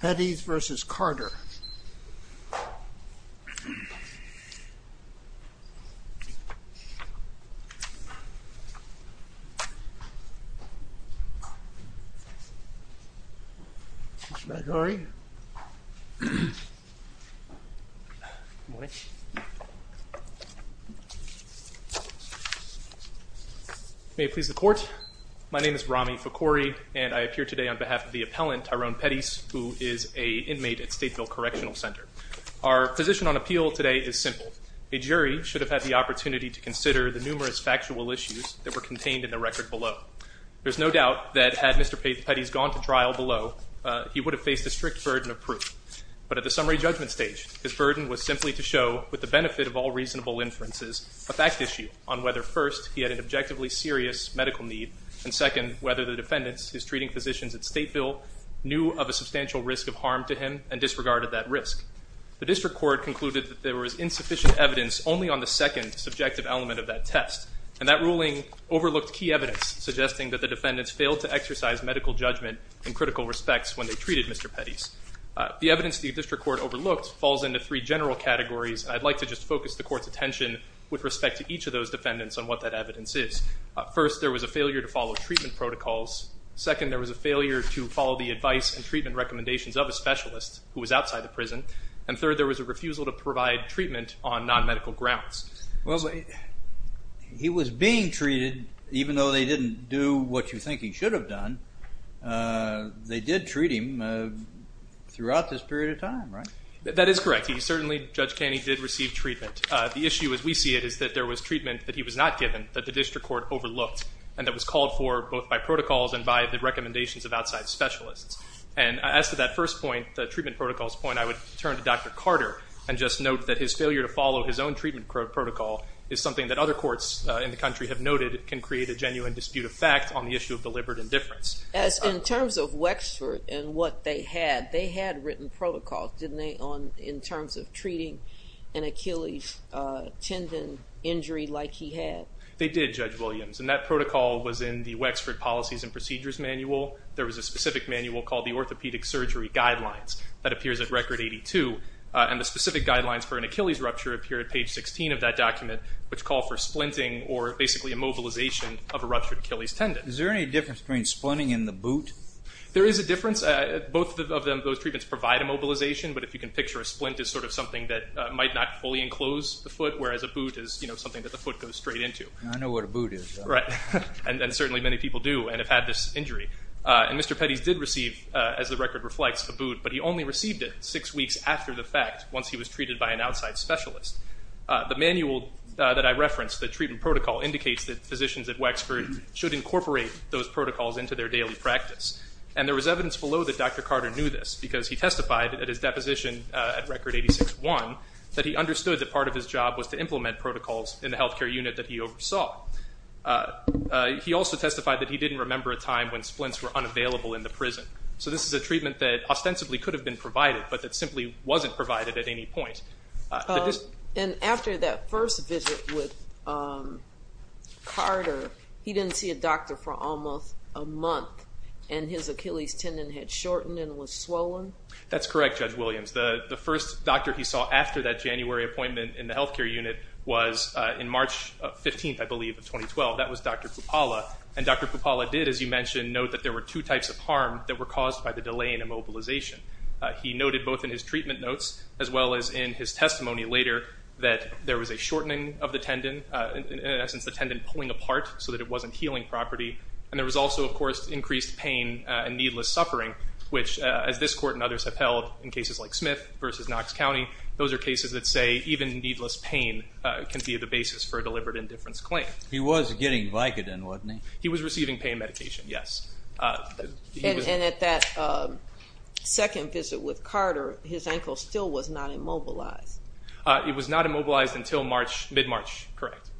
Petties v. Carter. May it please the Court, my name is Rami Fakhoury and I appear today on behalf of the appellant, Tyrone Petties, who is a inmate at Stateville Correctional Center. Our position on appeal today is simple. A jury should have had the opportunity to consider the numerous factual issues that were contained in the record below. There's no doubt that had Mr. Petties gone to trial below, he would have faced a strict burden of proof. But at the summary judgment stage, his burden was simply to show, with the benefit of all reasonable inferences, a fact issue on whether first, he had an objectively serious medical need, and second, whether the defendants, his treating physicians at Stateville, knew of a substantial risk of harm to him and disregarded that risk. The district court concluded that there was insufficient evidence only on the second subjective element of that test, and that ruling overlooked key evidence suggesting that the defendants failed to exercise medical judgment in critical respects when they treated Mr. Petties. The evidence the district court overlooked falls into three general categories. I'd like to just focus the court's attention with respect to each of those defendants on what that evidence is. First, there was a failure to follow treatment protocols. Second, there was a failure to follow the advice and treatment recommendations of a specialist who was outside the prison. And third, there was a refusal to provide treatment on non-medical grounds. Well, he was being treated even though they didn't do what you think he should have done. They did treat him throughout this period of time, right? That is correct. He certainly, Judge Caney, did receive treatment. The issue as we see it is that there was treatment that he was not given, that the district court overlooked, and that was called for both by protocols and by the recommendations of outside specialists. And as to that first point, the treatment protocols point, I would turn to Dr. Carter and just note that his failure to follow his own treatment protocol is something that other courts in the country have noted can create a genuine dispute of fact on the issue of deliberate indifference. As in terms of Wexford and what they had, they had written protocols, didn't they, on in terms of treating an Achilles tendon injury like he had? They did, Judge Williams, and that protocol was in the Wexford Policies and Procedures Manual. There was a specific manual called the Orthopedic Surgery Guidelines that appears at Record 82, and the specific guidelines for an Achilles rupture appear at page 16 of that document, which call for splinting or basically a mobilization of a ruptured Achilles tendon. Is there any difference between splinting and the boot? There is a difference. Both of those treatments provide a mobilization, but if you can picture a splint as sort of something that might not fully enclose the foot, whereas a boot is, you know, and certainly many people do and have had this injury. And Mr. Pettis did receive, as the record reflects, a boot, but he only received it six weeks after the fact, once he was treated by an outside specialist. The manual that I referenced, the treatment protocol, indicates that physicians at Wexford should incorporate those protocols into their daily practice, and there was evidence below that Dr. Carter knew this, because he testified at his deposition at Record 86-1 that he understood that part of his job was to treat splints. He also testified that he didn't remember a time when splints were unavailable in the prison. So this is a treatment that ostensibly could have been provided, but that simply wasn't provided at any point. And after that first visit with Carter, he didn't see a doctor for almost a month, and his Achilles tendon had shortened and was swollen? That's correct, Judge Williams. The first doctor he saw after that January appointment in the healthcare unit was in March 15th, I believe, of 2012. That was Dr. Pupala. And Dr. Pupala did, as you mentioned, note that there were two types of harm that were caused by the delay in immobilization. He noted both in his treatment notes, as well as in his testimony later, that there was a shortening of the tendon, in essence, the tendon pulling apart so that it wasn't healing properly. And there was also, of course, increased pain and needless suffering, which, as this court and others have held in cases like Smith versus Knox County, those are for a deliberate indifference claim. He was getting Vicodin, wasn't he? He was receiving pain medication, yes. And at that second visit with Carter, his ankle still was not immobilized? It was not immobilized until March, mid-March, correct.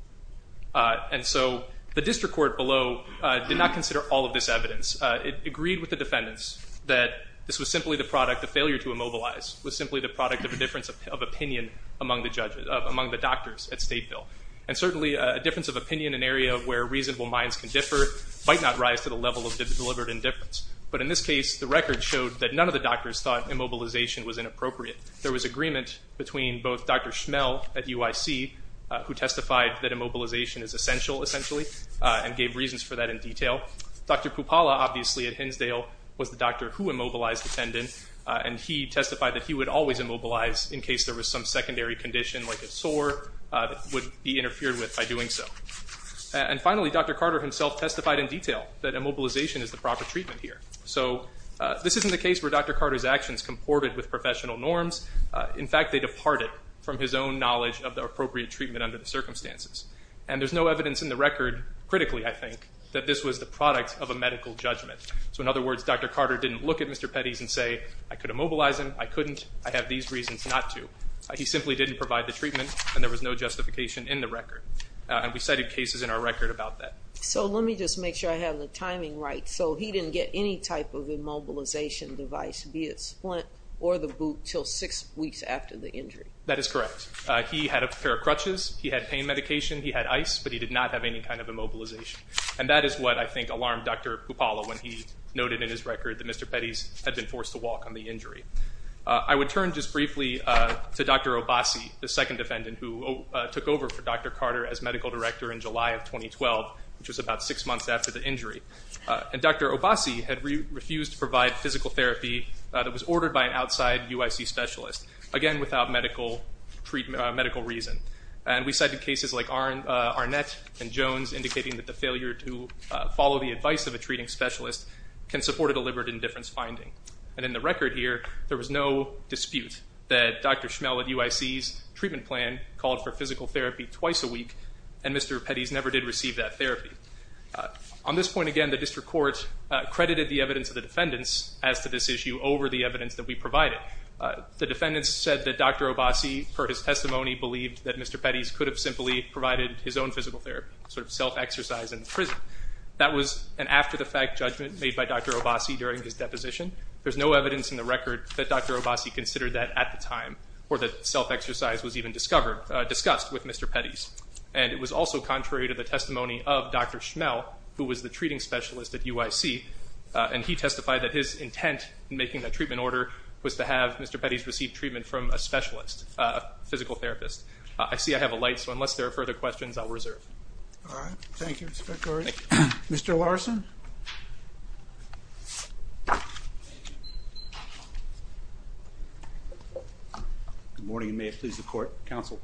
And so, the district court below did not consider all of this evidence. It agreed with the defendants that this was simply the product, the failure to immobilize, was simply the product of a difference of opinion among the doctors at Stateville. And certainly, a difference of opinion in an area where reasonable minds can differ might not rise to the level of deliberate indifference. But in this case, the record showed that none of the doctors thought immobilization was inappropriate. There was agreement between both Dr. Schmel at UIC, who testified that immobilization is essential, essentially, and gave reasons for that in detail. Dr. Pupala, obviously, at Hinsdale, was the doctor who immobilized the tendon, and he testified that he would always immobilize in case there was some secondary condition, like a sore, that would be interfered with by doing so. And finally, Dr. Carter himself testified in detail that immobilization is the proper treatment here. So, this isn't the case where Dr. Carter's actions comported with professional norms. In fact, they departed from his own knowledge of the appropriate treatment under the circumstances. And there's no evidence in the record, critically, I think, that this was the product of a medical judgment. So, in other words, Dr. Carter didn't look at Mr. Petty's and say, I could immobilize him, I couldn't, I have these reasons not to. He simply didn't provide the treatment, and there was no justification in the record. And we cited cases in our record about that. So, let me just make sure I have the timing right. So, he didn't get any type of immobilization device, be it splint or the boot, till six weeks after the injury? That is correct. He had a pair of crutches, he had pain medication, he had ice, but he did not have any kind of immobilization. And that is what, I think, alarmed Dr. Pupala when he noted in his walk on the injury. I would turn just briefly to Dr. Obasi, the second defendant who took over for Dr. Carter as medical director in July of 2012, which was about six months after the injury. And Dr. Obasi had refused to provide physical therapy that was ordered by an outside UIC specialist, again, without medical reason. And we cited cases like Arnett and Jones, indicating that the failure to follow the advice of a record here, there was no dispute that Dr. Schmell at UIC's treatment plan called for physical therapy twice a week, and Mr. Pettis never did receive that therapy. On this point, again, the district court credited the evidence of the defendants as to this issue over the evidence that we provided. The defendants said that Dr. Obasi, per his testimony, believed that Mr. Pettis could have simply provided his own physical therapy, sort of self-exercise in prison. That was an after-the-fact judgment made by Dr. Obasi during his deposition. There's no evidence in the record that Dr. Obasi considered that at the time, or that self-exercise was even discovered, discussed with Mr. Pettis. And it was also contrary to the testimony of Dr. Schmell, who was the treating specialist at UIC, and he testified that his intent in making that treatment order was to have Mr. Pettis receive treatment from a specialist, a physical therapist. I see I have a light, so unless there are further questions, I'll reserve. All right, thank you, Mr. Victoria. Mr. Larson. Good morning, and may it please the court, counsel.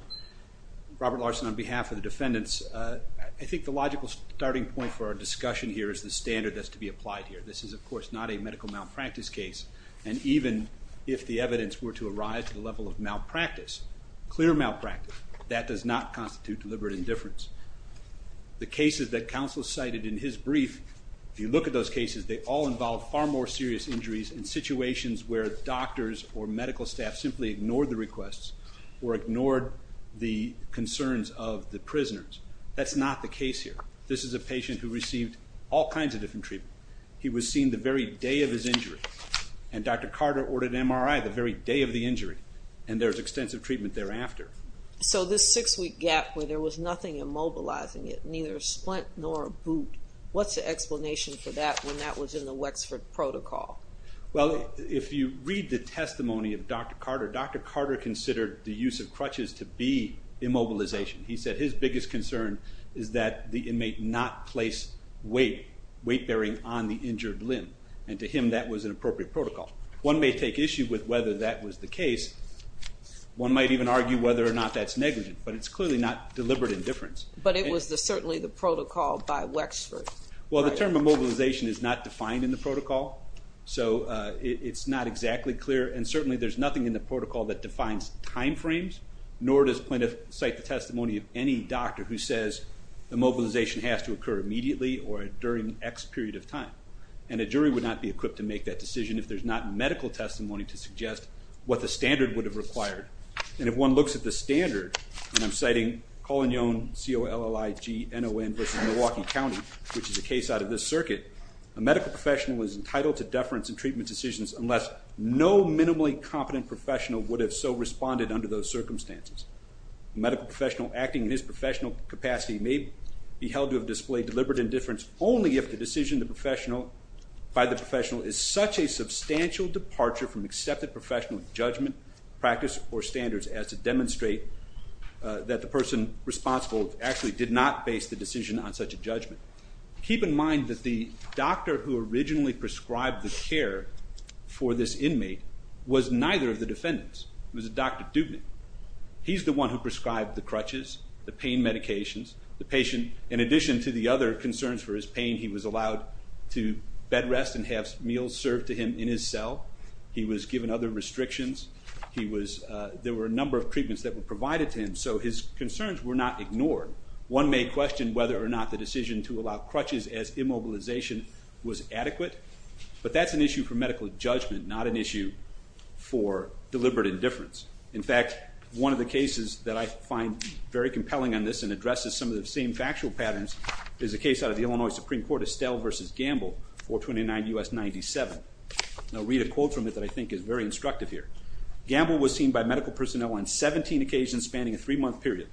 Robert Larson on behalf of the defendants. I think the logical starting point for our discussion here is the standard that's to be applied here. This is, of course, not a medical malpractice case, and even if the evidence were to arise to the level of malpractice, clear malpractice, that does not constitute deliberate indifference. The cases that counsel cited in his brief, if you look at those cases, they all involve far more serious injuries in situations where doctors or medical staff simply ignored the requests, or ignored the concerns of the prisoners. That's not the case here. This is a patient who received all kinds of different treatment. He was seen the very day of his injury, and Dr. Carter ordered an MRI the very day of the injury, and there's extensive treatment thereafter. So this six-week gap where there was nothing immobilizing it, neither splint nor boot, what's the explanation for that when that was in the Wexford protocol? Well, if you read the testimony of Dr. Carter, Dr. Carter considered the use of crutches to be immobilization. He said his biggest concern is that the inmate not place weight bearing on the injured limb, and to him that was an appropriate protocol. One may take issue with whether that was the case. One might even argue whether or not that's negligent, but it's clearly not deliberate indifference. But it was certainly the protocol by Wexford. Well, the term immobilization is not defined in the protocol, so it's not exactly clear, and certainly there's nothing in the protocol that defines time frames, nor does plaintiff cite the testimony of any doctor who says immobilization has to occur immediately or during X period of time, and a jury would not be equipped to make that decision if there's not medical testimony to suggest what the standard would have required. And if one looks at the standard, and I'm citing Collignon, C-O-L-L-I-G-N-O-N versus Milwaukee County, which is a case out of this circuit, a medical professional is entitled to deference and treatment decisions unless no minimally competent professional would have so responded under those circumstances. A medical professional acting in his professional capacity may be held to have displayed deliberate indifference only if the decision the professional, by the departure from accepted professional judgment, practice, or standards as to demonstrate that the person responsible actually did not base the decision on such a judgment. Keep in mind that the doctor who originally prescribed the care for this inmate was neither of the defendants. It was Dr. Dubny. He's the one who prescribed the crutches, the pain medications, the patient, in addition to the other concerns for his pain, he was allowed to bed rest and have meals served to him in his cell. He was given other restrictions. He was, there were a number of treatments that were provided to him, so his concerns were not ignored. One may question whether or not the decision to allow crutches as immobilization was adequate, but that's an issue for medical judgment, not an issue for deliberate indifference. In fact, one of the cases that I find very compelling on this and addresses some of the same factual patterns is a case out of the Illinois Supreme Court, Estelle versus Gamble, 429 U.S. 97. I'll read a quote from it that I think is very instructive here. Gamble was seen by medical personnel on 17 occasions spanning a three-month period,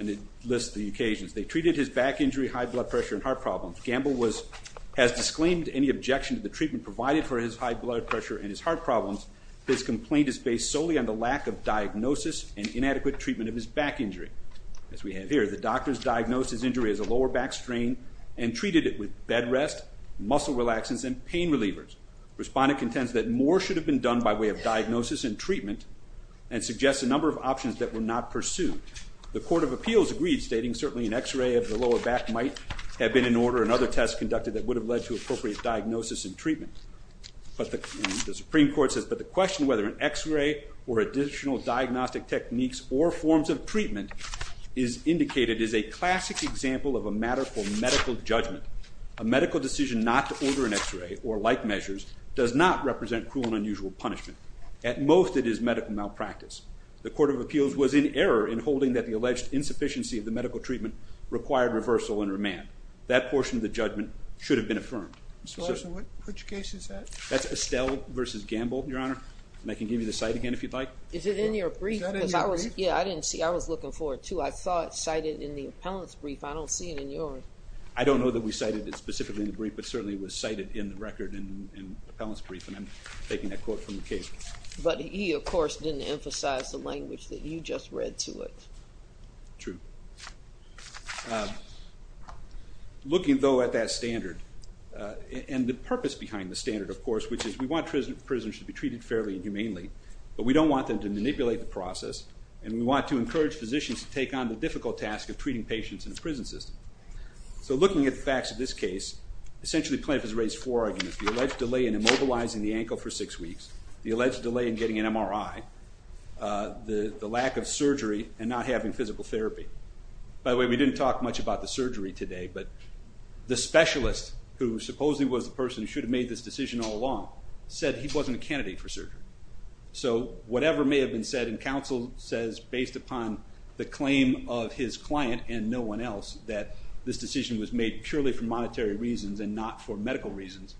and it lists the occasions. They treated his back injury, high blood pressure, and heart problems. Gamble was, has disclaimed any objection to the treatment provided for his high blood pressure and his heart problems. His complaint is based solely on the lack of diagnosis and inadequate treatment of his back injury. As we have here, the doctor's diagnosed his injury as a lower back strain and treated it with bed rest, muscle relaxants, and pain relievers. Respondent contends that more should have been done by way of diagnosis and treatment, and suggests a number of options that were not pursued. The Court of Appeals agreed, stating certainly an x-ray of the lower back might have been in order, and other tests conducted that would have led to appropriate diagnosis and treatment. But the Supreme Court says, but the question whether an x-ray or additional diagnostic techniques or forms of treatment is indicated as a classic example of a matter for medical judgment. A medical decision not to order an x-ray or like measures does not represent cruel and unusual punishment. At most it is medical malpractice. The Court of Appeals was in error in holding that the alleged insufficiency of the medical treatment required reversal and remand. That portion of the judgment should have been affirmed. Which case is that? That's Estelle versus Gamble, Your Honor, and I can give you the cite again if you'd like. Is it in your brief? Yeah, I didn't see. I was looking for it too. I don't see it in yours. I don't know that we cited it specifically in the brief, but certainly was cited in the record in the appellant's brief, and I'm taking that quote from the case. But he, of course, didn't emphasize the language that you just read to it. True. Looking though at that standard, and the purpose behind the standard, of course, which is we want prisoners to be treated fairly and humanely, but we don't want them to manipulate the process, and we want to prison system. So looking at the facts of this case, essentially Plamp has raised four arguments. The alleged delay in immobilizing the ankle for six weeks, the alleged delay in getting an MRI, the lack of surgery, and not having physical therapy. By the way, we didn't talk much about the surgery today, but the specialist, who supposedly was the person who should have made this decision all along, said he wasn't a candidate for surgery. So whatever may have been said and counsel says, based upon the claim of his client and no one else, that this decision was made purely for monetary reasons and not for medical reasons,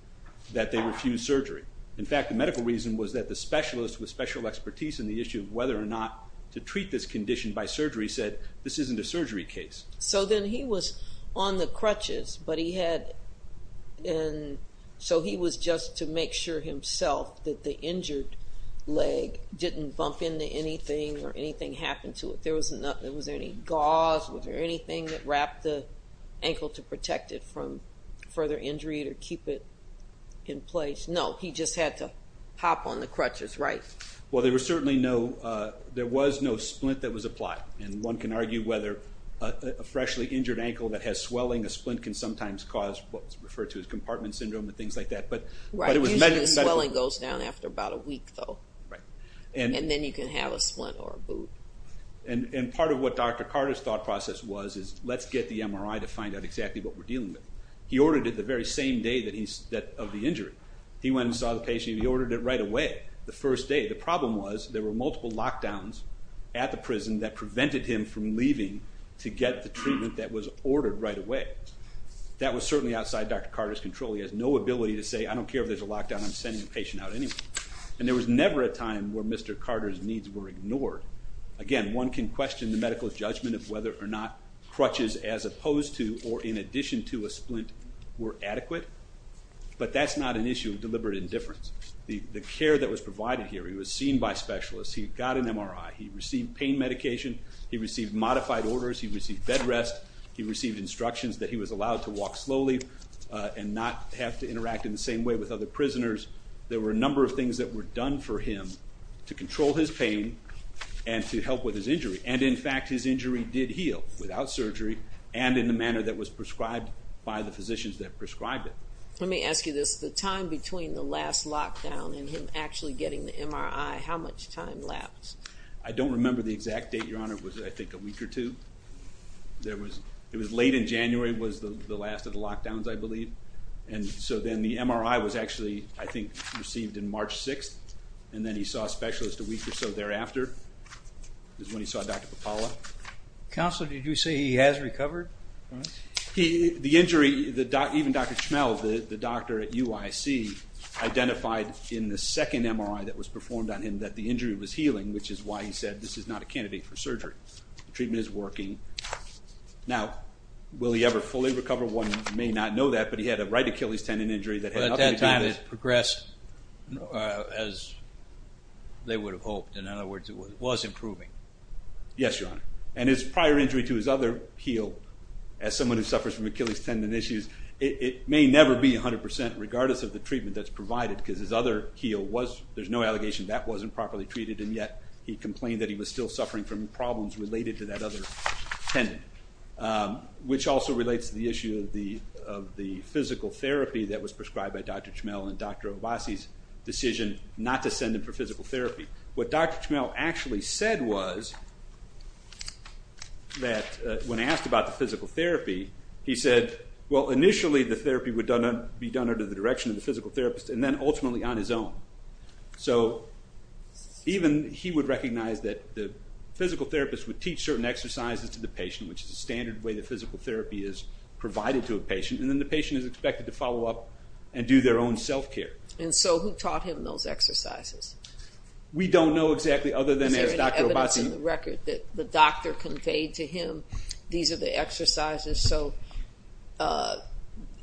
that they refused surgery. In fact, the medical reason was that the specialist with special expertise in the issue of whether or not to treat this condition by surgery said this isn't a surgery case. So then he was on the crutches, but he had, and so he was just to make sure himself that the injured leg didn't bump into anything or anything happened to it. There was nothing, was there any gauze, was there anything that wrapped the ankle to protect it from further injury to keep it in place? No, he just had to hop on the crutches, right? Well, there was certainly no, there was no splint that was applied, and one can argue whether a freshly injured ankle that has swelling, a splint can sometimes cause what's referred to as compartment syndrome and things like that, but it was can have a splint or a boot. And part of what Dr. Carter's thought process was is let's get the MRI to find out exactly what we're dealing with. He ordered it the very same day that he, of the injury. He went and saw the patient, he ordered it right away, the first day. The problem was there were multiple lockdowns at the prison that prevented him from leaving to get the treatment that was ordered right away. That was certainly outside Dr. Carter's control. He has no ability to say, I don't care if there's a lockdown, I'm sending a were ignored. Again, one can question the medical judgment of whether or not crutches as opposed to or in addition to a splint were adequate, but that's not an issue of deliberate indifference. The care that was provided here, he was seen by specialists, he got an MRI, he received pain medication, he received modified orders, he received bed rest, he received instructions that he was allowed to walk slowly and not have to interact in the same way with other prisoners. There were a number of things that were done for him to control his pain and to help with his injury, and in fact his injury did heal without surgery and in the manner that was prescribed by the physicians that prescribed it. Let me ask you this, the time between the last lockdown and him actually getting the MRI, how much time lapsed? I don't remember the exact date, Your Honor, was I think a week or two. There was, it was late in January was the last of the lockdowns, I believe, and so then the MRI was actually, I think, received in March 6th and then he saw specialists a week or so thereafter is when he saw Dr. Pappala. Counselor, did you say he has recovered? The injury, even Dr. Schmel, the doctor at UIC identified in the second MRI that was performed on him that the injury was healing, which is why he said this is not a candidate for surgery. The treatment is working. Now, will he ever fully recover? One may not know that, but he had a right Achilles tendon injury. But at that time it progressed as they would have hoped, in other words, it was improving. Yes, Your Honor, and his prior injury to his other heel, as someone who suffers from Achilles tendon issues, it may never be 100% regardless of the treatment that's provided because his other heel was, there's no allegation that wasn't properly treated, and yet he complained that he was still suffering from problems related to that other tendon, which also relates to the issue of the physical therapy that was prescribed by Dr. Schmel and Dr. Obasi's decision not to send him for physical therapy. What Dr. Schmel actually said was that when asked about the physical therapy, he said, well initially the therapy would be done under the direction of the physical therapist and then ultimately on his own. So even he would recognize that the standard way the physical therapy is provided to a patient and then the patient is expected to follow up and do their own self-care. And so who taught him those exercises? We don't know exactly other than Dr. Obasi. Is there any evidence in the record that the doctor conveyed to him these are the exercises? So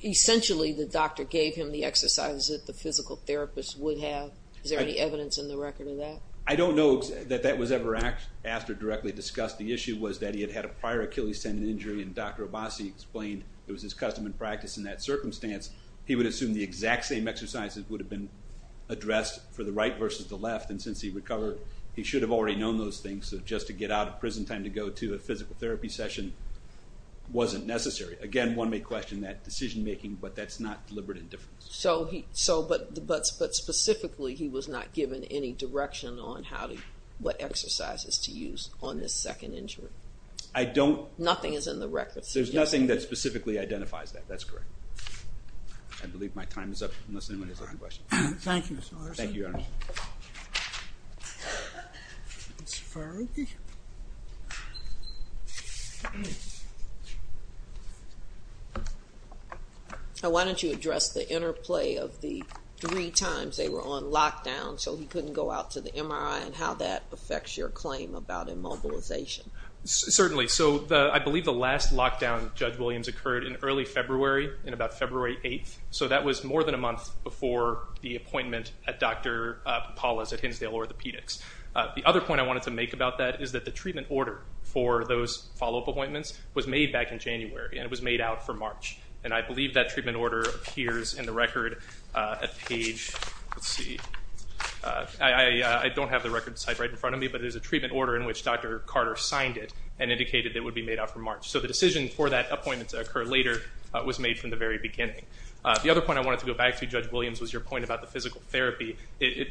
essentially the doctor gave him the exercises that the physical therapist would have. Is there any evidence in the record of that? I don't know that that was ever asked or directly discussed. The issue was that he had had a prior Achilles tendon injury and Dr. Obasi explained it was his custom and practice in that circumstance. He would assume the exact same exercises would have been addressed for the right versus the left and since he recovered he should have already known those things. So just to get out of prison time to go to a physical therapy session wasn't necessary. Again, one may question that decision-making but that's not deliberate indifference. So but specifically he was not given any direction on what exercises to use on this second injury? I don't. Nothing is in the records? There's nothing that specifically identifies that, that's correct. I believe my time is up unless anyone has any questions. Thank you, Mr. Larson. Thank you, Your Honor. Now why don't you address the interplay of the three times they were on lockdown so he couldn't go out to the MRI and how that affects your claim about immobilization? Certainly. So I believe the last lockdown, Judge Williams, occurred in early February, in about February 8th. So that was more than a month before the appointment at Dr. Paula's at Hinsdale Orthopedics. The other point I wanted to make about that is that the treatment order for those follow-up appointments was made back in January and it was made out for March and I believe that I don't have the record site right in front of me but there's a treatment order in which Dr. Carter signed it and indicated that would be made out for March. So the decision for that appointment to occur later was made from the very beginning. The other point I wanted to go back to, Judge Williams, was your point about the physical therapy.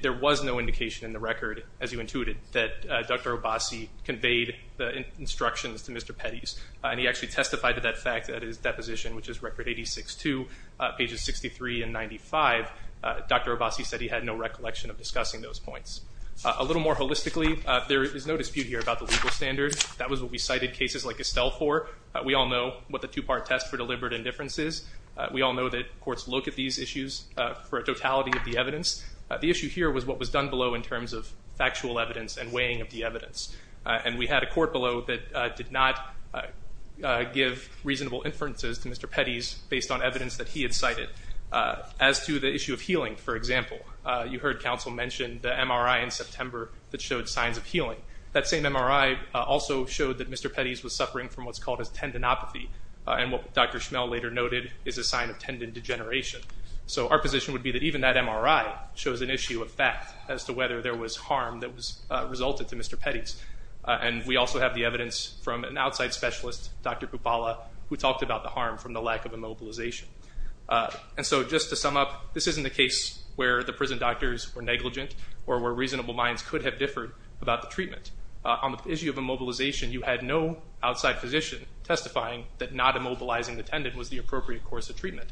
There was no indication in the record, as you intuited, that Dr. Obasi conveyed the instructions to Mr. Petty's and he actually testified to that fact at his deposition which is record 86-2, pages 63 and 95. Dr. Obasi said he had no recollection of discussing those points. A little more holistically, there is no dispute here about the legal standard. That was what we cited cases like Estelle for. We all know what the two-part test for deliberate indifference is. We all know that courts look at these issues for a totality of the evidence. The issue here was what was done below in terms of factual evidence and weighing of the evidence and we had a court below that did not give reasonable inferences to Mr. Petty's based on evidence. As to the issue of healing, for example, you heard counsel mention the MRI in September that showed signs of healing. That same MRI also showed that Mr. Petty's was suffering from what's called a tendinopathy and what Dr. Schmel later noted is a sign of tendon degeneration. So our position would be that even that MRI shows an issue of fact as to whether there was harm that was resulted to Mr. Petty's and we also have the evidence from an outside specialist, Dr. Kupala, who talked about the harm from the lack of immobilization. And so just to sum up, this isn't the case where the prison doctors were negligent or where reasonable minds could have differed about the treatment. On the issue of immobilization, you had no outside physician testifying that not immobilizing the tendon was the appropriate course of treatment.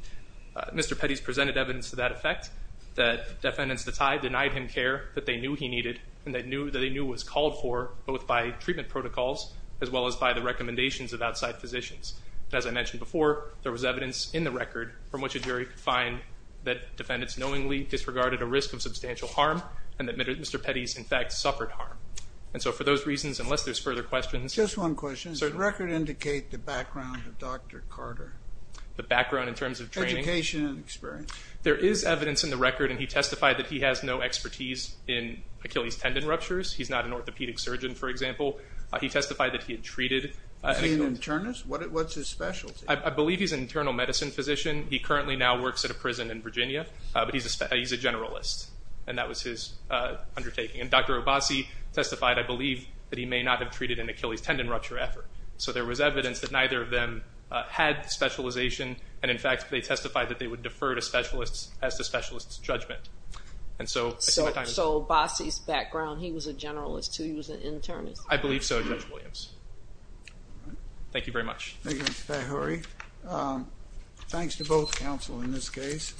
Mr. Petty's presented evidence to that effect that defendants that I denied him care that they knew he needed and that knew that he knew was called for both by treatment protocols as well as by the recommendations of outside physicians. As I mentioned before, there was evidence in the record from which a jury could find that defendants knowingly disregarded a risk of substantial harm and that Mr. Petty's in fact suffered harm. And so for those reasons, unless there's further questions... Just one question. Does the record indicate the background of Dr. Carter? The background in terms of training? Education and experience? There is evidence in the record and he testified that he has no expertise in Achilles tendon ruptures. He's not an orthopedic surgeon, for example. He testified that he I believe he's an internal medicine physician. He currently now works at a prison in Virginia, but he's a generalist and that was his undertaking. And Dr. Obasi testified, I believe, that he may not have treated an Achilles tendon rupture effort. So there was evidence that neither of them had specialization and in fact they testified that they would defer to specialists as to specialists judgment. So Obasi's background, he was a generalist, he was an internist. I believe so, Judge Williams. Thank you very much. Thank you, Mr. Tejari. Thanks to both counsel in this case.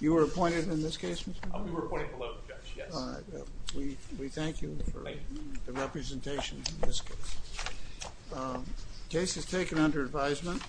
You were appointed in this case? We were appointed below the judge, yes. All right. We thank you for the representation in this case. The case is taken under advisement.